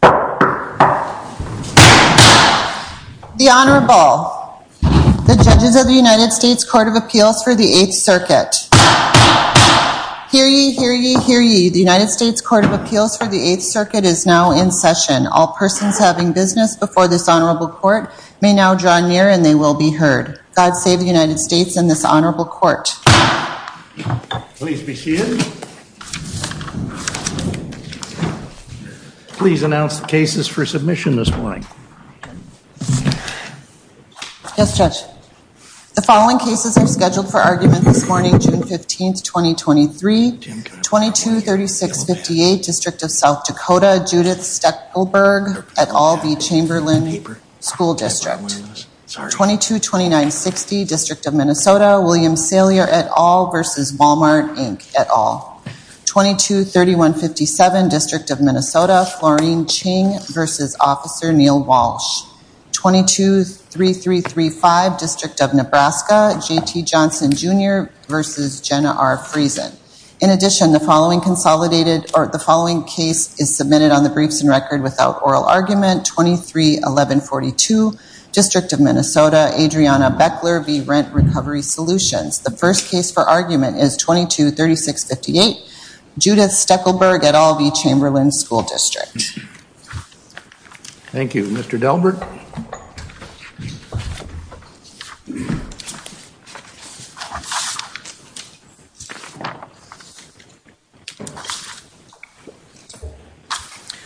The Honorable, the Judges of the United States Court of Appeals for the Eighth Circuit. Hear ye, hear ye, hear ye. The United States Court of Appeals for the Eighth Circuit is now in session. All persons having business before this Honorable Court may now draw near and they will be heard. God save the United States and this Honorable Court. Please be seated. Please announce the cases for submission this morning. Yes, Judge. The following cases are scheduled for argument this morning, June 15th, 2023. 223658, District of South Dakota, Judith Steckelberg et al v. Chamberlain School District. 222960, District of Minnesota, William Salier et al v. Walmart, Inc. et al. 223157, District of Minnesota, Florine Ching v. Officer Neil Walsh. 223335, District of Nebraska, J.T. Johnson Jr. v. Jenna R. Friesen. In addition, the following case is submitted on the briefs and record without oral argument. 231142, District of Minnesota, Adriana Beckler v. Rent Recovery Solutions. The first case for argument is 223658, Judith Steckelberg et al v. Chamberlain School District. Thank you. Mr. Delbert?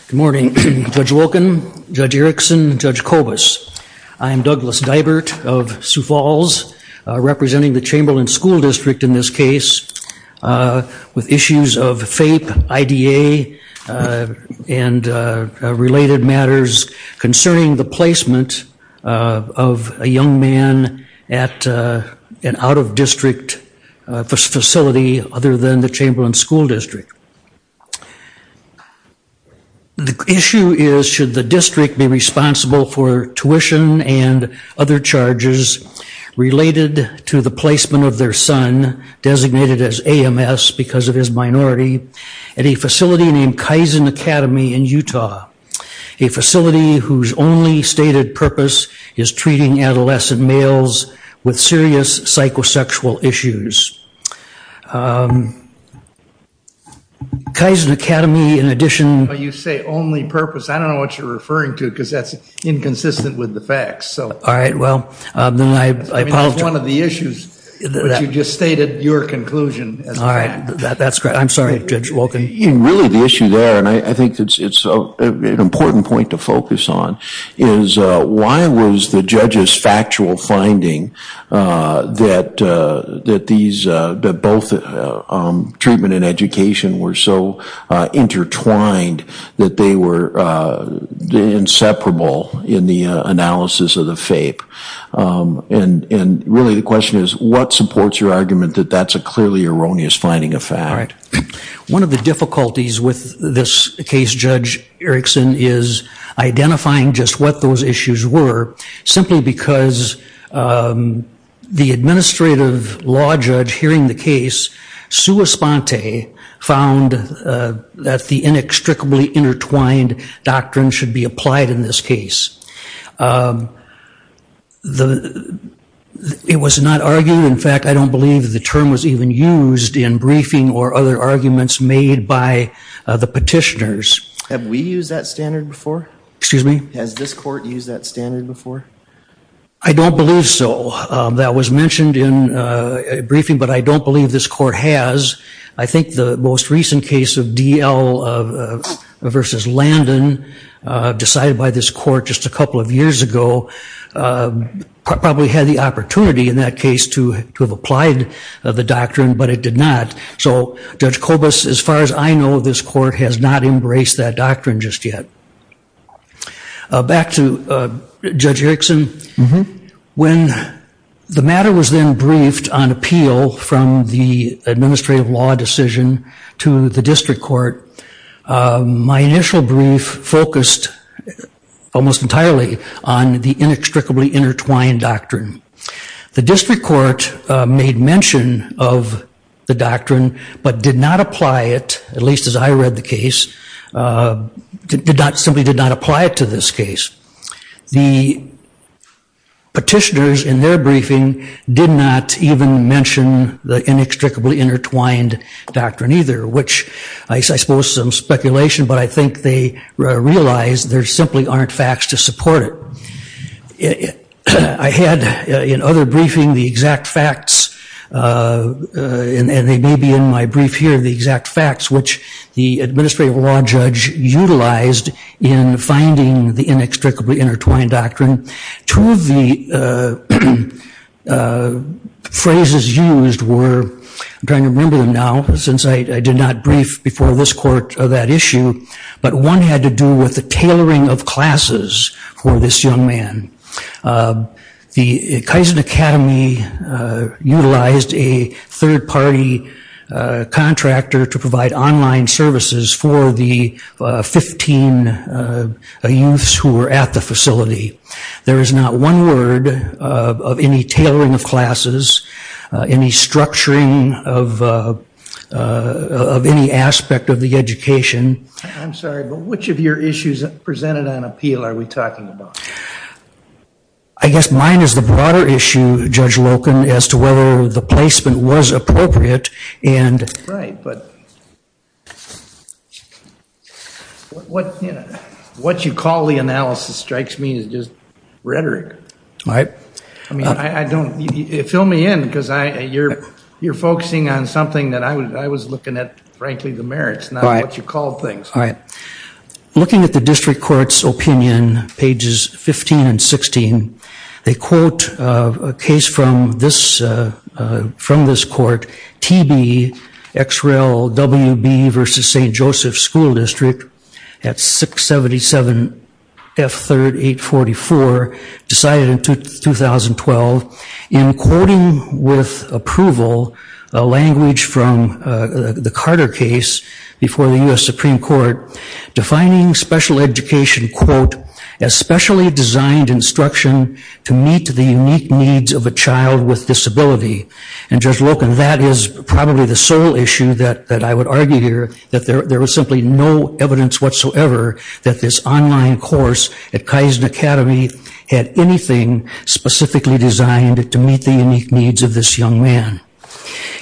Good morning, Judge Wilkin, Judge Erickson, Judge Kobus. I am Douglas Delbert of Sioux Falls, representing the Chamberlain School District in this case, with issues of FAPE, IDA, and related matters concerning the placement of a young man at an out-of-district facility other than the Chamberlain School District. The issue is, should the district be responsible for tuition and other charges related to the placement of their son, designated as AMS because of his minority, at a facility named Kaizen Academy in Utah, a facility whose only stated purpose is treating adolescent males with serious psychosexual issues. Kaizen Academy, in addition... You say only purpose, I don't know what you're referring to, because that's inconsistent with the facts. All right, well, then I apologize. It's one of the issues, but you just stated your conclusion. All right, that's correct. I'm sorry, Judge Wilkin. Really, the issue there, and I think it's an important point to focus on, is why was the judge's factual finding that both treatment and education were so intertwined that they were inseparable in the analysis of the FAPE? Really, the question is, what supports your argument that that's a clearly erroneous finding of fact? One of the difficulties with this case, Judge Erickson, is identifying just what those issues were simply because the administrative law judge hearing the case, Sua Sponte, found that the inextricably intertwined doctrine should be applied in this case. It was not argued, in fact, I don't believe the term was even used in briefing or other arguments made by the petitioners. Have we used that standard before? Excuse me? Has this court used that standard before? I don't believe so. That was mentioned in briefing, but I don't believe this court has. I think the most recent case of D.L. versus Landon, decided by this court just a couple of years ago, probably had the opportunity in that case to have applied the doctrine, but it did not. So, Judge Kobus, as far as I know, this court has not embraced that doctrine just yet. Back to Judge Erickson. When the matter was then briefed on appeal from the administrative law decision to the district court, my initial brief focused almost entirely on the inextricably intertwined doctrine. The district court made mention of the doctrine, but did not apply it, at least as I read the case, simply did not apply it to this case. The petitioners, in their briefing, did not even mention the inextricably intertwined doctrine either, which I suppose is some speculation, but I think they realized there simply aren't facts to support it. I had, in other briefing, the exact facts, and they may be in my brief here, the exact facts, which the administrative law judge utilized in finding the inextricably intertwined doctrine. Two of the phrases used were, I'm trying to remember them now, since I did not brief before this court that issue, but one had to do with the tailoring of classes for this young man. The Kaizen Academy utilized a third party contractor to provide online services for the 15 youths who were at the facility. There is not one word of any tailoring of classes, any structuring of any aspect of the education. I'm sorry, but which of your issues presented on appeal are we talking about? I guess mine is the broader issue, Judge Loken, as to whether the placement was appropriate. Right, but what you call the analysis strikes me as just rhetoric. Right. I mean, fill me in, because you're focusing on something that I was looking at, frankly, the merits, not what you call things. All right. Looking at the district court's opinion, pages 15 and 16, they quote a case from this court, TB, XREL, WB versus St. Joseph School District, at 677 F3rd 844, decided in 2012, in quoting with approval a language from the Carter case before the U.S. Supreme Court, defining special education, quote, as specially designed instruction to meet the unique needs of a child with disability. And, Judge Loken, that is probably the sole issue that I would argue here, that there was simply no evidence whatsoever that this online course at Kaizen Academy had anything specifically designed to meet the unique needs of this young man.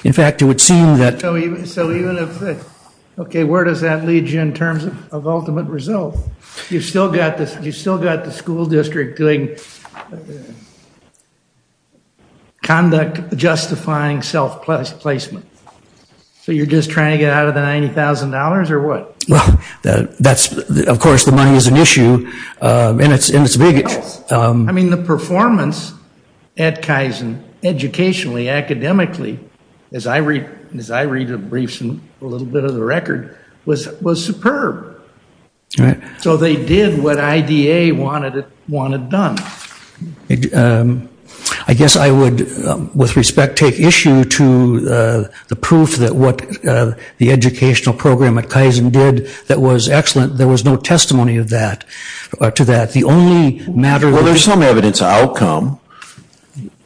In fact, it would seem that. So even if, okay, where does that lead you in terms of ultimate result? You've still got the school district doing conduct justifying self-placement. So you're just trying to get out of the $90,000, or what? That's, of course, the money is an issue, and it's big. I mean, the performance at Kaizen, educationally, academically, as I read briefs and a little bit of the record, was superb. So they did what IDA wanted done. I guess I would, with respect, take issue to the proof that what the educational program at Kaizen did that was excellent. There was no testimony to that. The only matter of- Well, there's some evidence of outcome,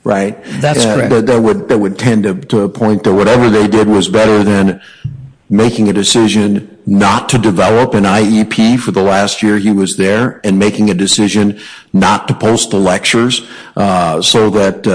right? That's correct. That would tend to point to whatever they did was better than making a decision not to develop an IEP for the last year he was there, and making a decision not to post the lectures so that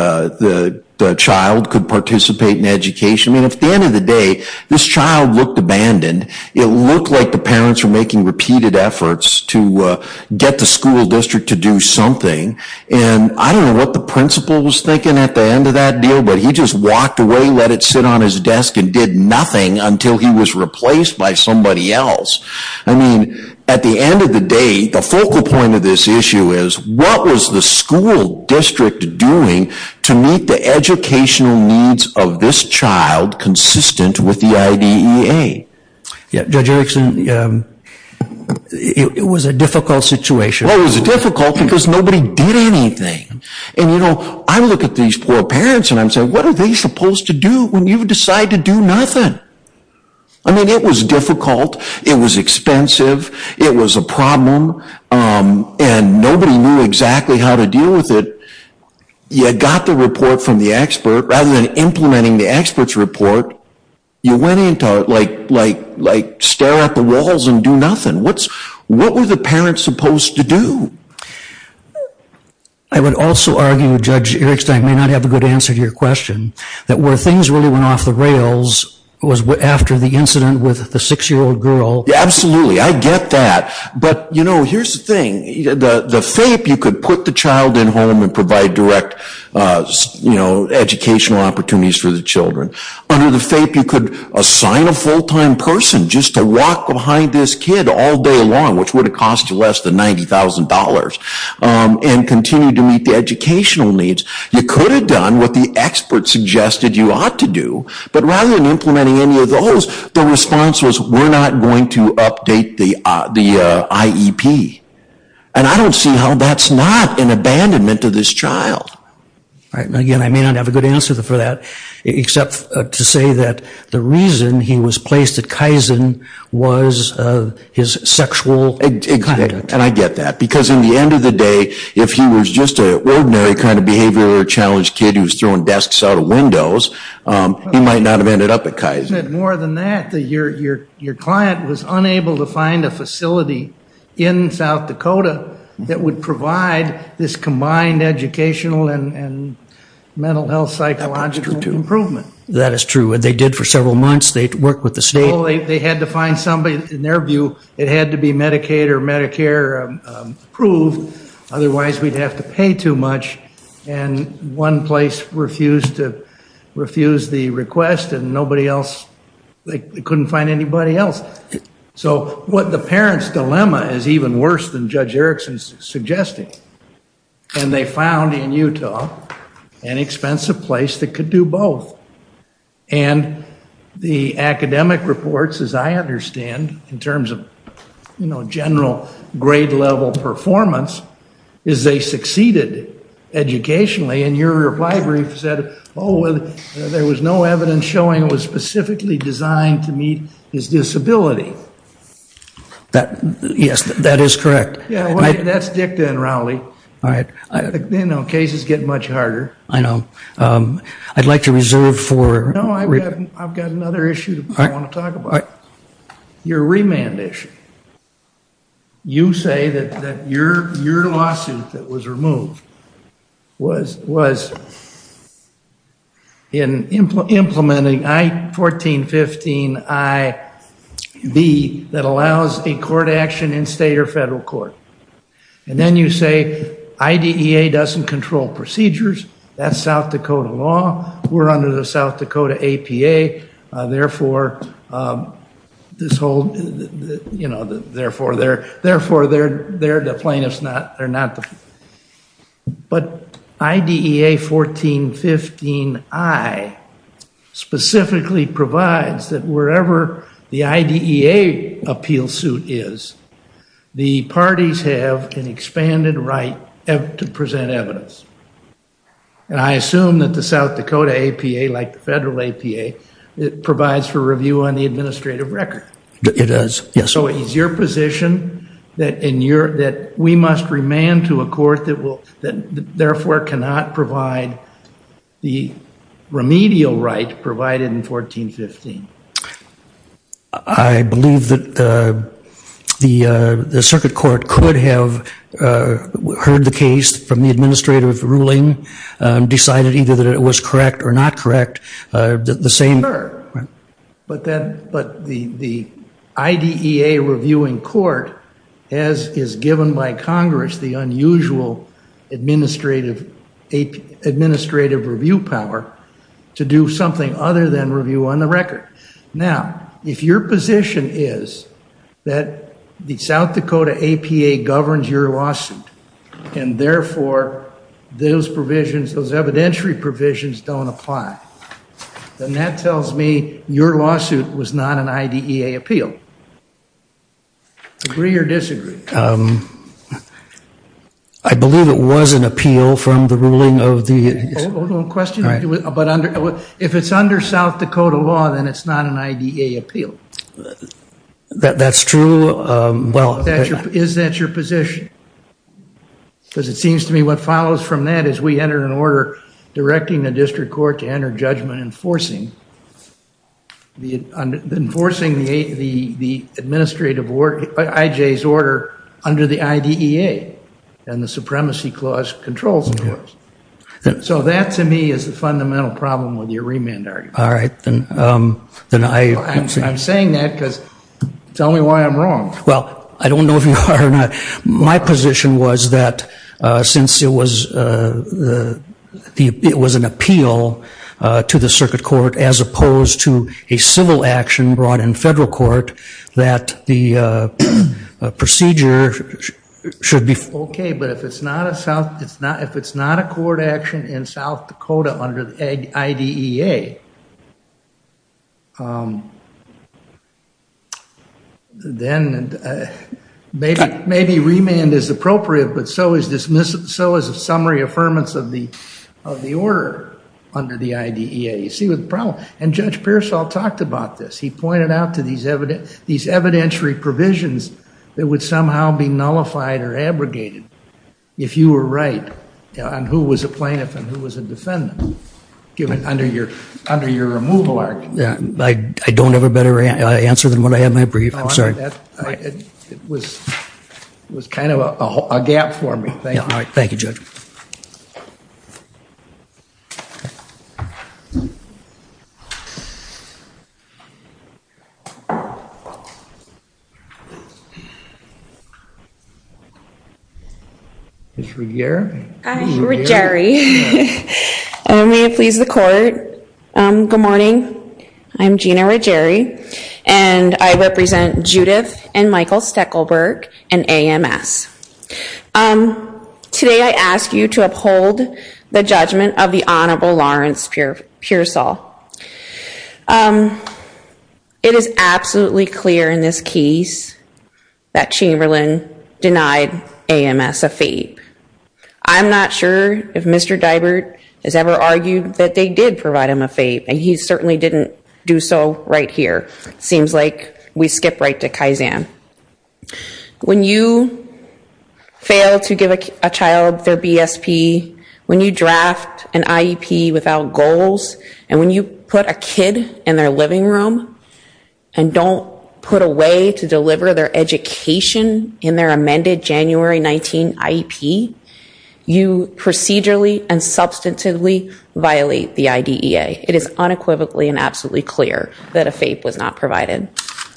the child could participate in education. I mean, at the end of the day, this child looked abandoned. It looked like the parents were making repeated efforts to get the school district to do something. And I don't know what the principal was thinking at the end of that deal, but he just walked away, let it sit on his desk, and did nothing until he was replaced by somebody else. I mean, at the end of the day, the focal point of this issue is, what was the school district doing to meet the educational needs of this child consistent with the IDEA? Judge Erickson, it was a difficult situation. Well, it was difficult because nobody did anything. And, you know, I look at these poor parents and I say, what are they supposed to do when you decide to do nothing? I mean, it was difficult. It was expensive. It was a problem. And nobody knew exactly how to deal with it. You had got the report from the expert. Rather than implementing the expert's report, you went in to, like, stare at the walls and do nothing. What were the parents supposed to do? I would also argue, Judge Erickson, I may not have a good answer to your question, that where things really went off the rails was after the incident with the six-year-old girl. Absolutely. I get that. But, you know, here's the thing. The fape, you could put the child in home and provide direct educational opportunities for the children. Under the fape, you could assign a full-time person just to walk behind this kid all day long, which would have cost you less than $90,000, and continue to meet the educational needs. You could have done what the expert suggested you ought to do. But rather than implementing any of those, the response was, we're not going to update the IEP. And I don't see how that's not an abandonment to this child. Again, I may not have a good answer for that, except to say that the reason he was placed at Kaizen was his sexual conduct. And I get that. Because in the end of the day, if he was just an ordinary kind of behavior or a challenged kid who was throwing desks out of windows, he might not have ended up at Kaizen. But more than that, your client was unable to find a facility in South Dakota that would provide this combined educational and mental health psychological improvement. That is true. They did for several months. They worked with the state. Well, they had to find somebody. In their view, it had to be Medicaid or Medicare approved. Otherwise, we'd have to pay too much. And one place refused to refuse the request, and nobody else, they couldn't find anybody else. So what the parents' dilemma is even worse than Judge Erickson's suggesting. And they found in Utah an expensive place that could do both. And the academic reports, as I understand, in terms of general grade-level performance, is they succeeded educationally. And your reply brief said, oh, well, there was no evidence showing it was specifically designed to meet his disability. Yes, that is correct. Yeah, that's Dick then, Rowley. All right. You know, cases get much harder. I know. I'd like to reserve for- No, I've got another issue I want to talk about. Your remand issue. You say that your lawsuit that was removed was in implementing I-14, 15, I-B that allows a court action in state or federal court. And then you say IDEA doesn't control procedures. That's South Dakota law. We're under the South Dakota APA. Therefore, they're the plaintiffs. They're not the plaintiffs. But IDEA 14, 15, I specifically provides that wherever the IDEA appeal suit is, the parties have an expanded right to present evidence. And I assume that the South Dakota APA, like the federal APA, provides for review on the administrative record. It does, yes. So is your position that we must remand to a court that, therefore, cannot provide the remedial right provided in 14, 15? I believe that the circuit court could have heard the case from the administrative ruling, decided either that it was correct or not correct. The same. Sure. But the IDEA reviewing court, as is given by Congress, the unusual administrative review power to do something other than review on the record. Now, if your position is that the South Dakota APA governs your lawsuit and, therefore, those provisions, those evidentiary provisions don't apply, then that tells me your lawsuit was not an IDEA appeal. Agree or disagree? I believe it was an appeal from the ruling of the ‑‑ But if it's under South Dakota law, then it's not an IDEA appeal. That's true. Is that your position? Because it seems to me what follows from that is we enter an order directing the district court to enter judgment enforcing the administrative IJ's order under the IDEA and the supremacy clause controls, of course. So that, to me, is the fundamental problem with your remand argument. All right. I'm saying that because tell me why I'm wrong. Well, I don't know if you are or not. My position was that since it was an appeal to the circuit court as opposed to a civil action brought in federal court that the procedure should be ‑‑ then maybe remand is appropriate, but so is a summary affirmance of the order under the IDEA. You see the problem? And Judge Pearsall talked about this. He pointed out to these evidentiary provisions that would somehow be nullified or abrogated if you were right on who was a plaintiff and who was a defendant under your removal argument. I don't have a better answer than what I have in my brief. I'm sorry. It was kind of a gap for me. Thank you. Thank you, Judge. Ms. Ruggieri? Ruggieri. May it please the court. Good morning. I'm Gina Ruggieri, and I represent Judith and Michael Steckelberg in AMS. Today I ask you to uphold the judgment of the Honorable Lawrence Pearsall. It is absolutely clear in this case that Chamberlain denied AMS a FAPE. I'm not sure if Mr. Deibert has ever argued that they did provide him a FAPE, and he certainly didn't do so right here. It seems like we skip right to Kaizen. When you fail to give a child their BSP, when you draft an IEP without goals, and when you put a kid in their living room and don't put a way to deliver their education in their amended January 19 IEP, you procedurally and substantively violate the IDEA. It is unequivocally and absolutely clear that a FAPE was not provided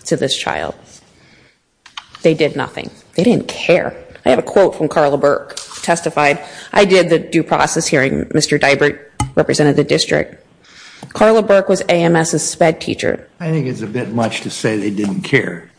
to this child. They did nothing. They didn't care. I have a quote from Carla Burke, testified, I did the due process hearing. Mr. Deibert represented the district. Carla Burke was AMS's SPED teacher. I think it's a bit much to say they didn't care.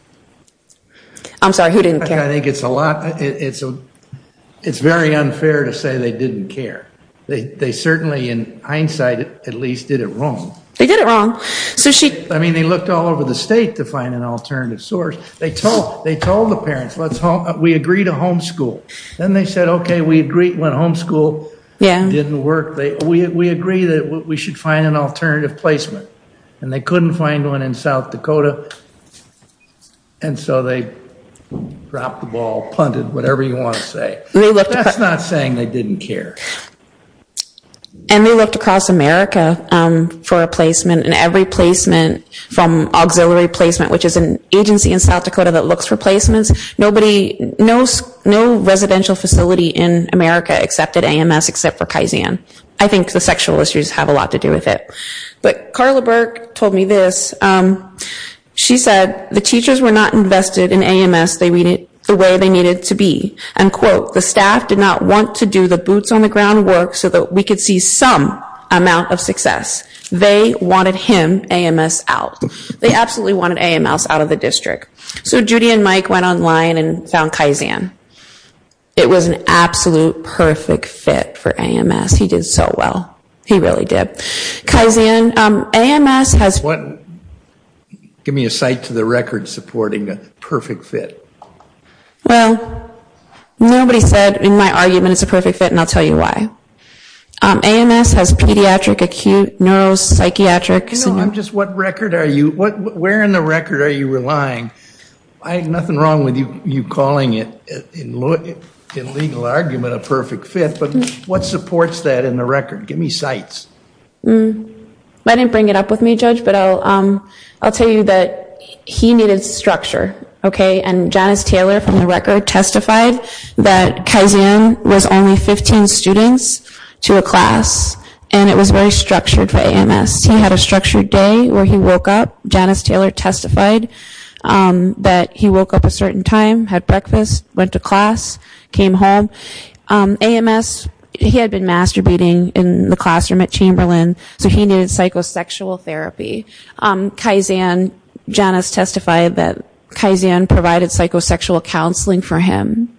I'm sorry, who didn't care? I think it's a lot, it's very unfair to say they didn't care. They certainly in hindsight at least did it wrong. They did it wrong. I mean they looked all over the state to find an alternative source. They told the parents, we agree to homeschool. Then they said, okay, we agree to homeschool. It didn't work. We agree that we should find an alternative placement, and they couldn't find one in South Dakota, and so they dropped the ball, punted, whatever you want to say. That's not saying they didn't care. And they looked across America for a placement, and every placement from auxiliary placement, which is an agency in South Dakota that looks for placements, no residential facility in America accepted AMS except for Kaizen. I think the sexual issues have a lot to do with it. But Carla Burke told me this. She said, the teachers were not invested in AMS the way they needed to be. And, quote, the staff did not want to do the boots on the ground work so that we could see some amount of success. They wanted him, AMS, out. They absolutely wanted AMS out of the district. So Judy and Mike went online and found Kaizen. It was an absolute perfect fit for AMS. He did so well. He really did. Kaizen, AMS has- Give me a cite to the record supporting a perfect fit. Well, nobody said in my argument it's a perfect fit, and I'll tell you why. AMS has pediatric, acute, neuropsychiatric- No, I'm just, what record are you- Where in the record are you relying? I have nothing wrong with you calling it, in legal argument, a perfect fit, but what supports that in the record? Give me cites. I didn't bring it up with me, Judge, but I'll tell you that he needed structure. And Janice Taylor, from the record, testified that Kaizen was only 15 students to a class, and it was very structured for AMS. He had a structured day where he woke up. Janice Taylor testified that he woke up a certain time, had breakfast, went to class, came home. AMS, he had been masturbating in the classroom at Chamberlain, so he needed psychosexual therapy. Kaizen, Janice testified that Kaizen provided psychosexual counseling for him.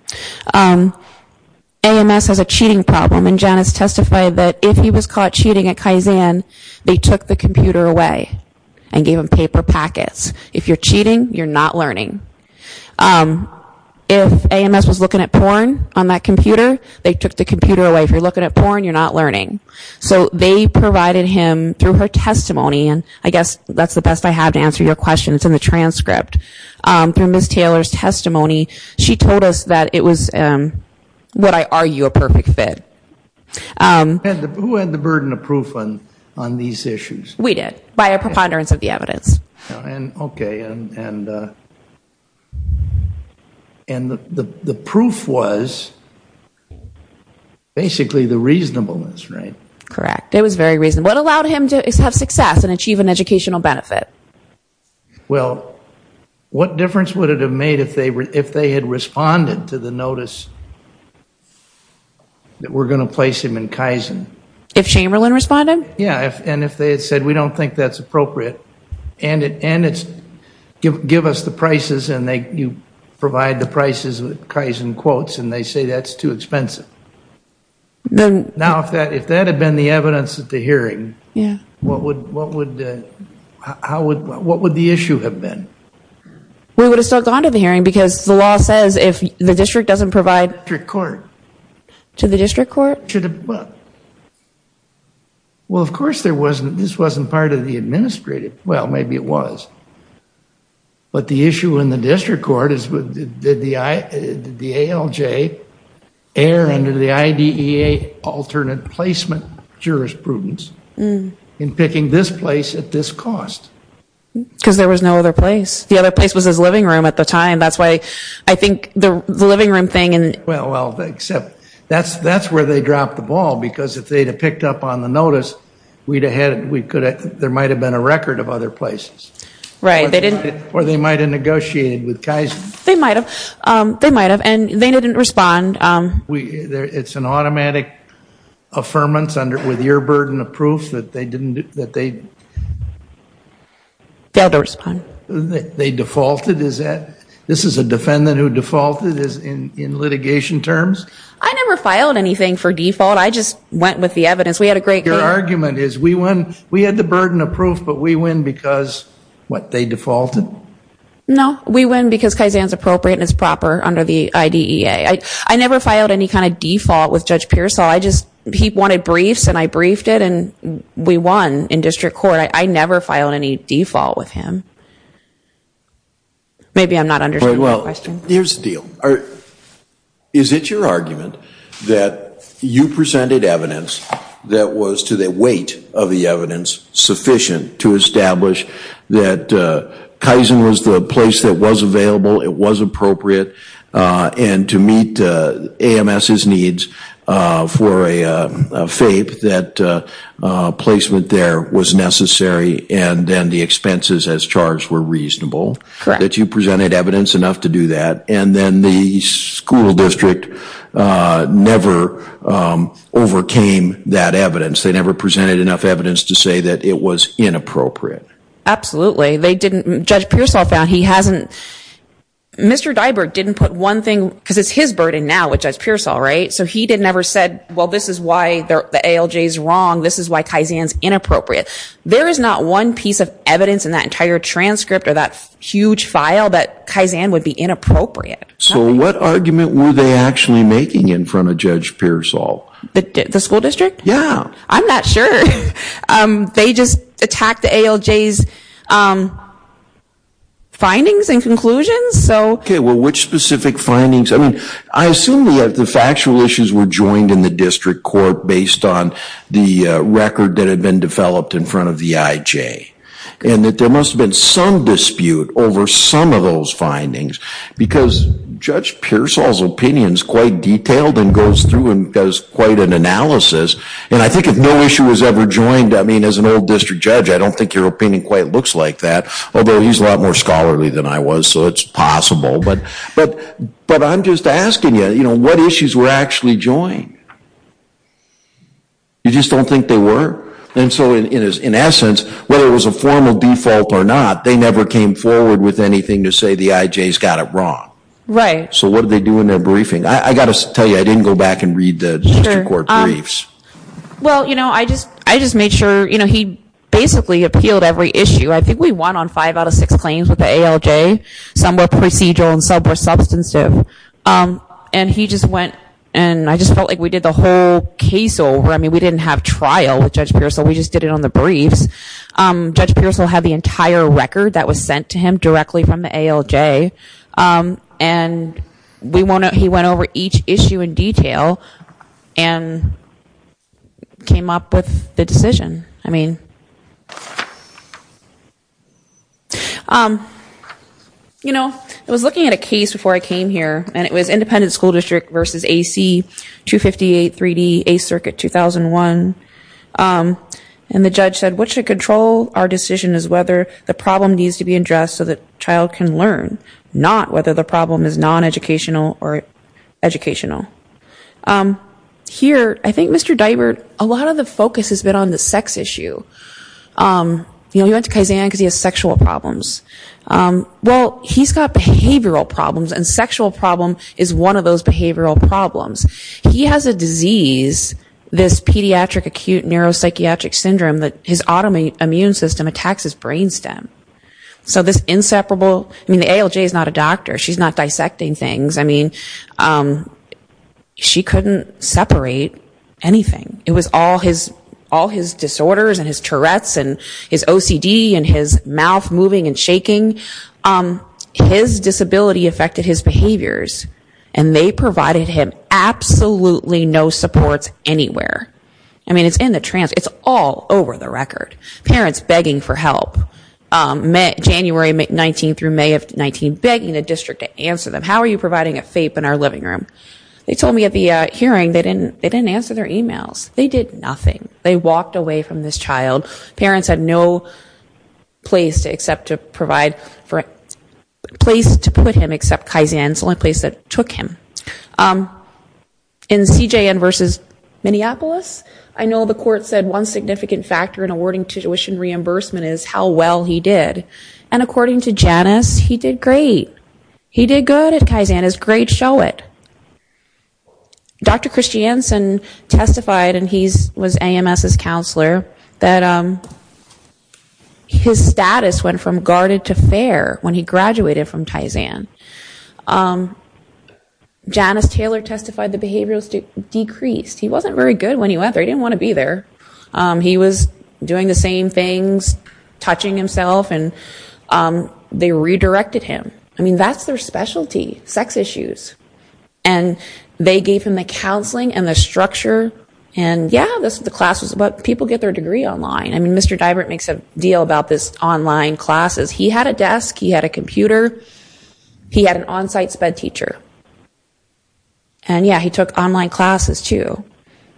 AMS has a cheating problem, and Janice testified that if he was caught cheating at Kaizen, they took the computer away and gave him paper packets. If you're cheating, you're not learning. If AMS was looking at porn on that computer, they took the computer away. If you're looking at porn, you're not learning. So they provided him, through her testimony, and I guess that's the best I have to answer your question. It's in the transcript. Through Ms. Taylor's testimony, she told us that it was, what I argue, a perfect fit. Who had the burden of proof on these issues? We did, by a preponderance of the evidence. Okay, and the proof was basically the reasonableness, right? Correct. It was very reasonable. What allowed him to have success and achieve an educational benefit? Well, what difference would it have made if they had responded to the notice that we're going to place him in Kaizen? If Chamberlain responded? Yeah, and if they had said, we don't think that's appropriate, and it's give us the prices, and you provide the prices with Kaizen quotes, and they say that's too expensive. Now, if that had been the evidence at the hearing, what would the issue have been? We would have still gone to the hearing because the law says if the district doesn't provide... To the district court. To the district court? Well, of course, this wasn't part of the administrative... well, maybe it was. But the issue in the district court is did the ALJ err under the IDEA alternate placement jurisprudence in picking this place at this cost? Because there was no other place. The other place was his living room at the time. That's why I think the living room thing... Well, except that's where they dropped the ball because if they'd have picked up on the notice, there might have been a record of other places. Right, they didn't... Or they might have negotiated with Kaizen. They might have, and they didn't respond. It's an automatic affirmance with your burden of proof that they didn't... Failed to respond. They defaulted? This is a defendant who defaulted in litigation terms? I never filed anything for default. I just went with the evidence. We had a great... Your argument is we had the burden of proof, but we win because, what, they defaulted? No, we win because Kaizen's appropriate and it's proper under the IDEA. I never filed any kind of default with Judge Pearsall. I just... he wanted briefs, and I briefed it, and we won in district court. I never filed any default with him. Maybe I'm not understanding the question. Here's the deal. Is it your argument that you presented evidence that was, to the weight of the evidence, sufficient to establish that Kaizen was the place that was available, it was appropriate, and to meet AMS's needs for a FAPE, that placement there was necessary, and then the expenses as charged were reasonable? Correct. Is it your argument that you presented evidence enough to do that, and then the school district never overcame that evidence? They never presented enough evidence to say that it was inappropriate? Absolutely. They didn't... Judge Pearsall found he hasn't... Mr. Diberk didn't put one thing... because it's his burden now with Judge Pearsall, right? So he didn't ever say, well, this is why the ALJ is wrong. This is why Kaizen's inappropriate. There is not one piece of evidence in that entire transcript or that huge file that Kaizen would be inappropriate. So what argument were they actually making in front of Judge Pearsall? The school district? Yeah. I'm not sure. They just attacked the ALJ's findings and conclusions, so... Okay, well, which specific findings? I mean, I assume that the factual issues were joined in the district court based on the record that had been developed in front of the IJ, and that there must have been some dispute over some of those findings, because Judge Pearsall's opinion is quite detailed and goes through and does quite an analysis, and I think if no issue was ever joined, I mean, as an old district judge, I don't think your opinion quite looks like that, although he's a lot more scholarly than I was, so it's possible. But I'm just asking you, you know, what issues were actually joined? You just don't think they were? And so in essence, whether it was a formal default or not, they never came forward with anything to say the IJ's got it wrong. Right. So what did they do in their briefing? I've got to tell you, I didn't go back and read the district court briefs. Well, you know, I just made sure, you know, he basically appealed every issue. I think we won on five out of six claims with the ALJ. Some were procedural and some were substantive. And he just went and I just felt like we did the whole case over. I mean, we didn't have trial with Judge Pearsall. We just did it on the briefs. Judge Pearsall had the entire record that was sent to him directly from the ALJ, and he went over each issue in detail and came up with the decision. I mean, you know, I was looking at a case before I came here, and it was independent school district versus AC, 258, 3D, 8th Circuit, 2001. And the judge said what should control our decision is whether the problem needs to be addressed so the child can learn, not whether the problem is non-educational or educational. Here, I think Mr. Deibert, a lot of the focus has been on the sex issue. You know, he went to Kaizen because he has sexual problems. Well, he's got behavioral problems, and sexual problem is one of those behavioral problems. He has a disease, this pediatric acute neuropsychiatric syndrome, that his autoimmune system attacks his brain stem. So this inseparable, I mean, the ALJ is not a doctor. She's not dissecting things. I mean, she couldn't separate anything. It was all his disorders and his Tourette's and his OCD and his mouth moving and shaking. His disability affected his behaviors, and they provided him absolutely no supports anywhere. I mean, it's in the transcript. It's all over the record. Parents begging for help, January 19 through May of 19, begging the district to answer them, how are you providing a FAPE in our living room? They told me at the hearing they didn't answer their emails. They did nothing. They walked away from this child. Parents had no place to put him except Kaizen. It's the only place that took him. In CJN versus Minneapolis, I know the court said one significant factor in awarding tuition reimbursement is how well he did. And according to Janice, he did great. He did good at Kaizen. His grades show it. Dr. Christiansen testified, and he was AMS's counselor, that his status went from guarded to fair when he graduated from Kaizen. Janice Taylor testified the behavior was decreased. He wasn't very good when he went there. He didn't want to be there. He was doing the same things, touching himself, and they redirected him. I mean, that's their specialty, sex issues. And they gave him the counseling and the structure, and yeah, the class was about people get their degree online. I mean, Mr. Divert makes a deal about this online classes. He had a desk. He had a computer. He had an onsite SPED teacher. And yeah, he took online classes too.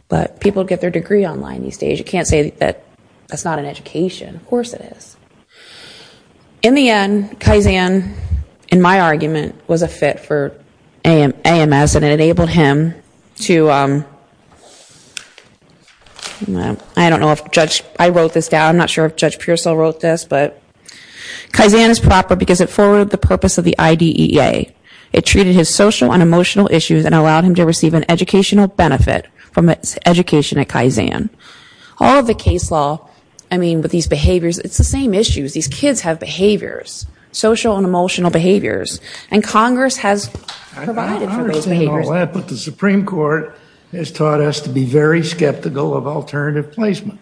But people get their degree online these days. You can't say that that's not an education. Of course it is. In the end, Kaizen, in my argument, was a fit for AMS, and it enabled him to, I don't know if Judge, I wrote this down. I'm not sure if Judge Pearsall wrote this, but Kaizen is proper because it forwarded the purpose of the IDEA. It treated his social and emotional issues and allowed him to receive an educational benefit from his education at Kaizen. All of the case law, I mean, with these behaviors, it's the same issues. These kids have behaviors, social and emotional behaviors. And Congress has provided for these behaviors. I understand all that, but the Supreme Court has taught us to be very skeptical of alternative placement.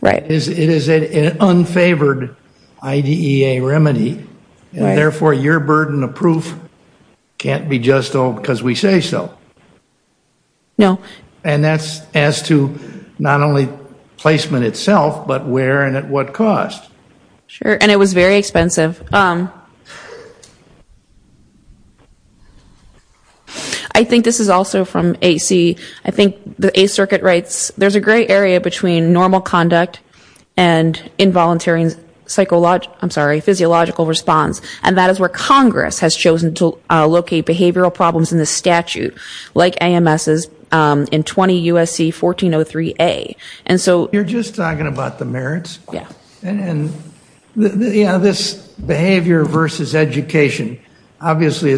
Right. It is an unfavored IDEA remedy, and therefore your burden of proof can't be just because we say so. No. And that's as to not only placement itself, but where and at what cost. Sure, and it was very expensive. I think this is also from AC. I think the A Circuit writes, there's a gray area between normal conduct and involuntary physiological response, and that is where Congress has chosen to locate behavioral problems in the statute, like AMS's in 20 U.S.C. 1403A. You're just talking about the merits? Yeah. And, you know, this behavior versus education, obviously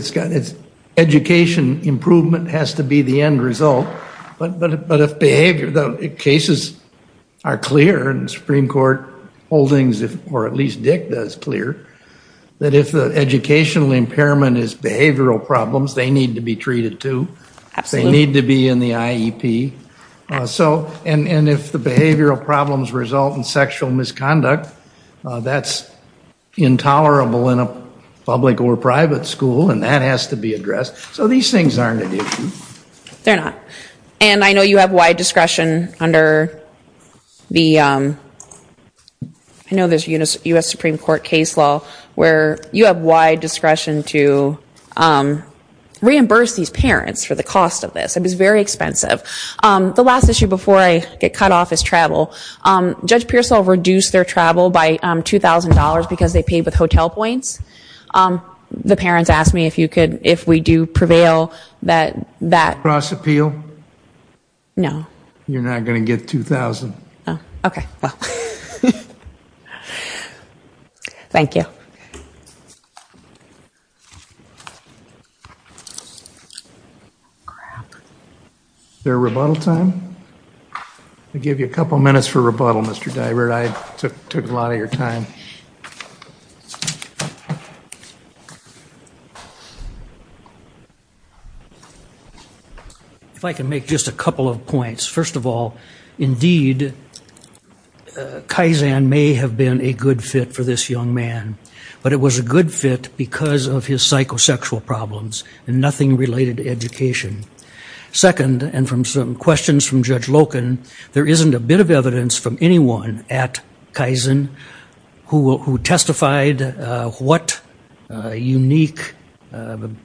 education improvement has to be the end result. But if behavior, the cases are clear, and the Supreme Court holdings, or at least Dick does, clear that if the educational impairment is behavioral problems, they need to be treated too. Absolutely. They need to be in the IEP. And if the behavioral problems result in sexual misconduct, that's intolerable in a public or private school, and that has to be addressed. So these things aren't an issue. They're not. And I know you have wide discretion under the U.S. Supreme Court case law where you have wide discretion to reimburse these parents for the cost of this. It is very expensive. The last issue before I get cut off is travel. Judge Pearsall reduced their travel by $2,000 because they paid with hotel points. The parents asked me if we do prevail that that. Cross-appeal? No. You're not going to get $2,000? No. Okay. Well, thank you. Is there a rebuttal time? I'll give you a couple minutes for rebuttal, Mr. Divert. I took a lot of your time. If I can make just a couple of points. First of all, indeed, Kaizen may have been a good fit for this young man, but it was a good fit because of his psychosexual problems and nothing related to education. Second, and from some questions from Judge Loken, there isn't a bit of evidence from anyone at Kaizen who testified what unique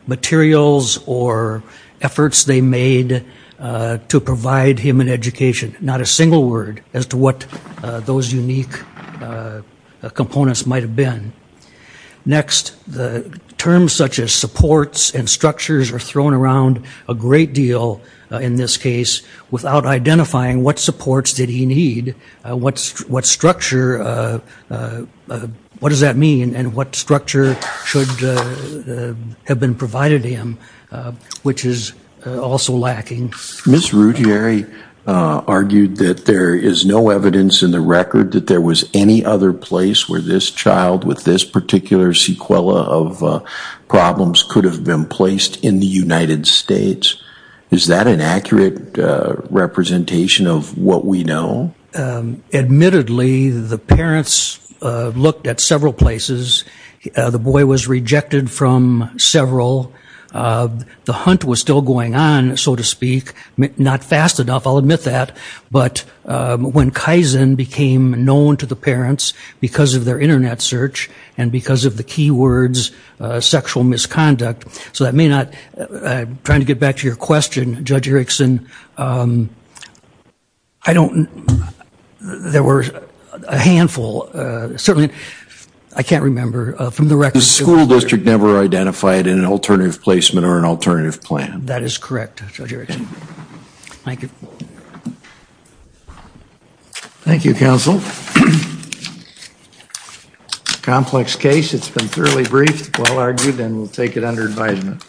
materials or efforts they made to provide him an education. Not a single word as to what those unique components might have been. Next, the terms such as supports and structures are thrown around a great deal in this case without identifying what supports did he need, what structure, what does that mean, and what structure should have been provided to him, which is also lacking. Ms. Ruggieri argued that there is no evidence in the record that there was any other place where this child with this particular sequela of problems could have been placed in the United States. Is that an accurate representation of what we know? Admittedly, the parents looked at several places. The boy was rejected from several. The hunt was still going on, so to speak. Not fast enough, I'll admit that, but when Kaizen became known to the parents because of their Internet search and because of the keywords sexual misconduct, so that may not, trying to get back to your question, Judge Erickson, I don't, there were a handful, certainly, I can't remember from the record. The school district never identified an alternative placement or an alternative plan. That is correct, Judge Erickson. Thank you. Thank you, Counsel. Complex case. It's been thoroughly briefed, well argued, and we'll take it under advisement.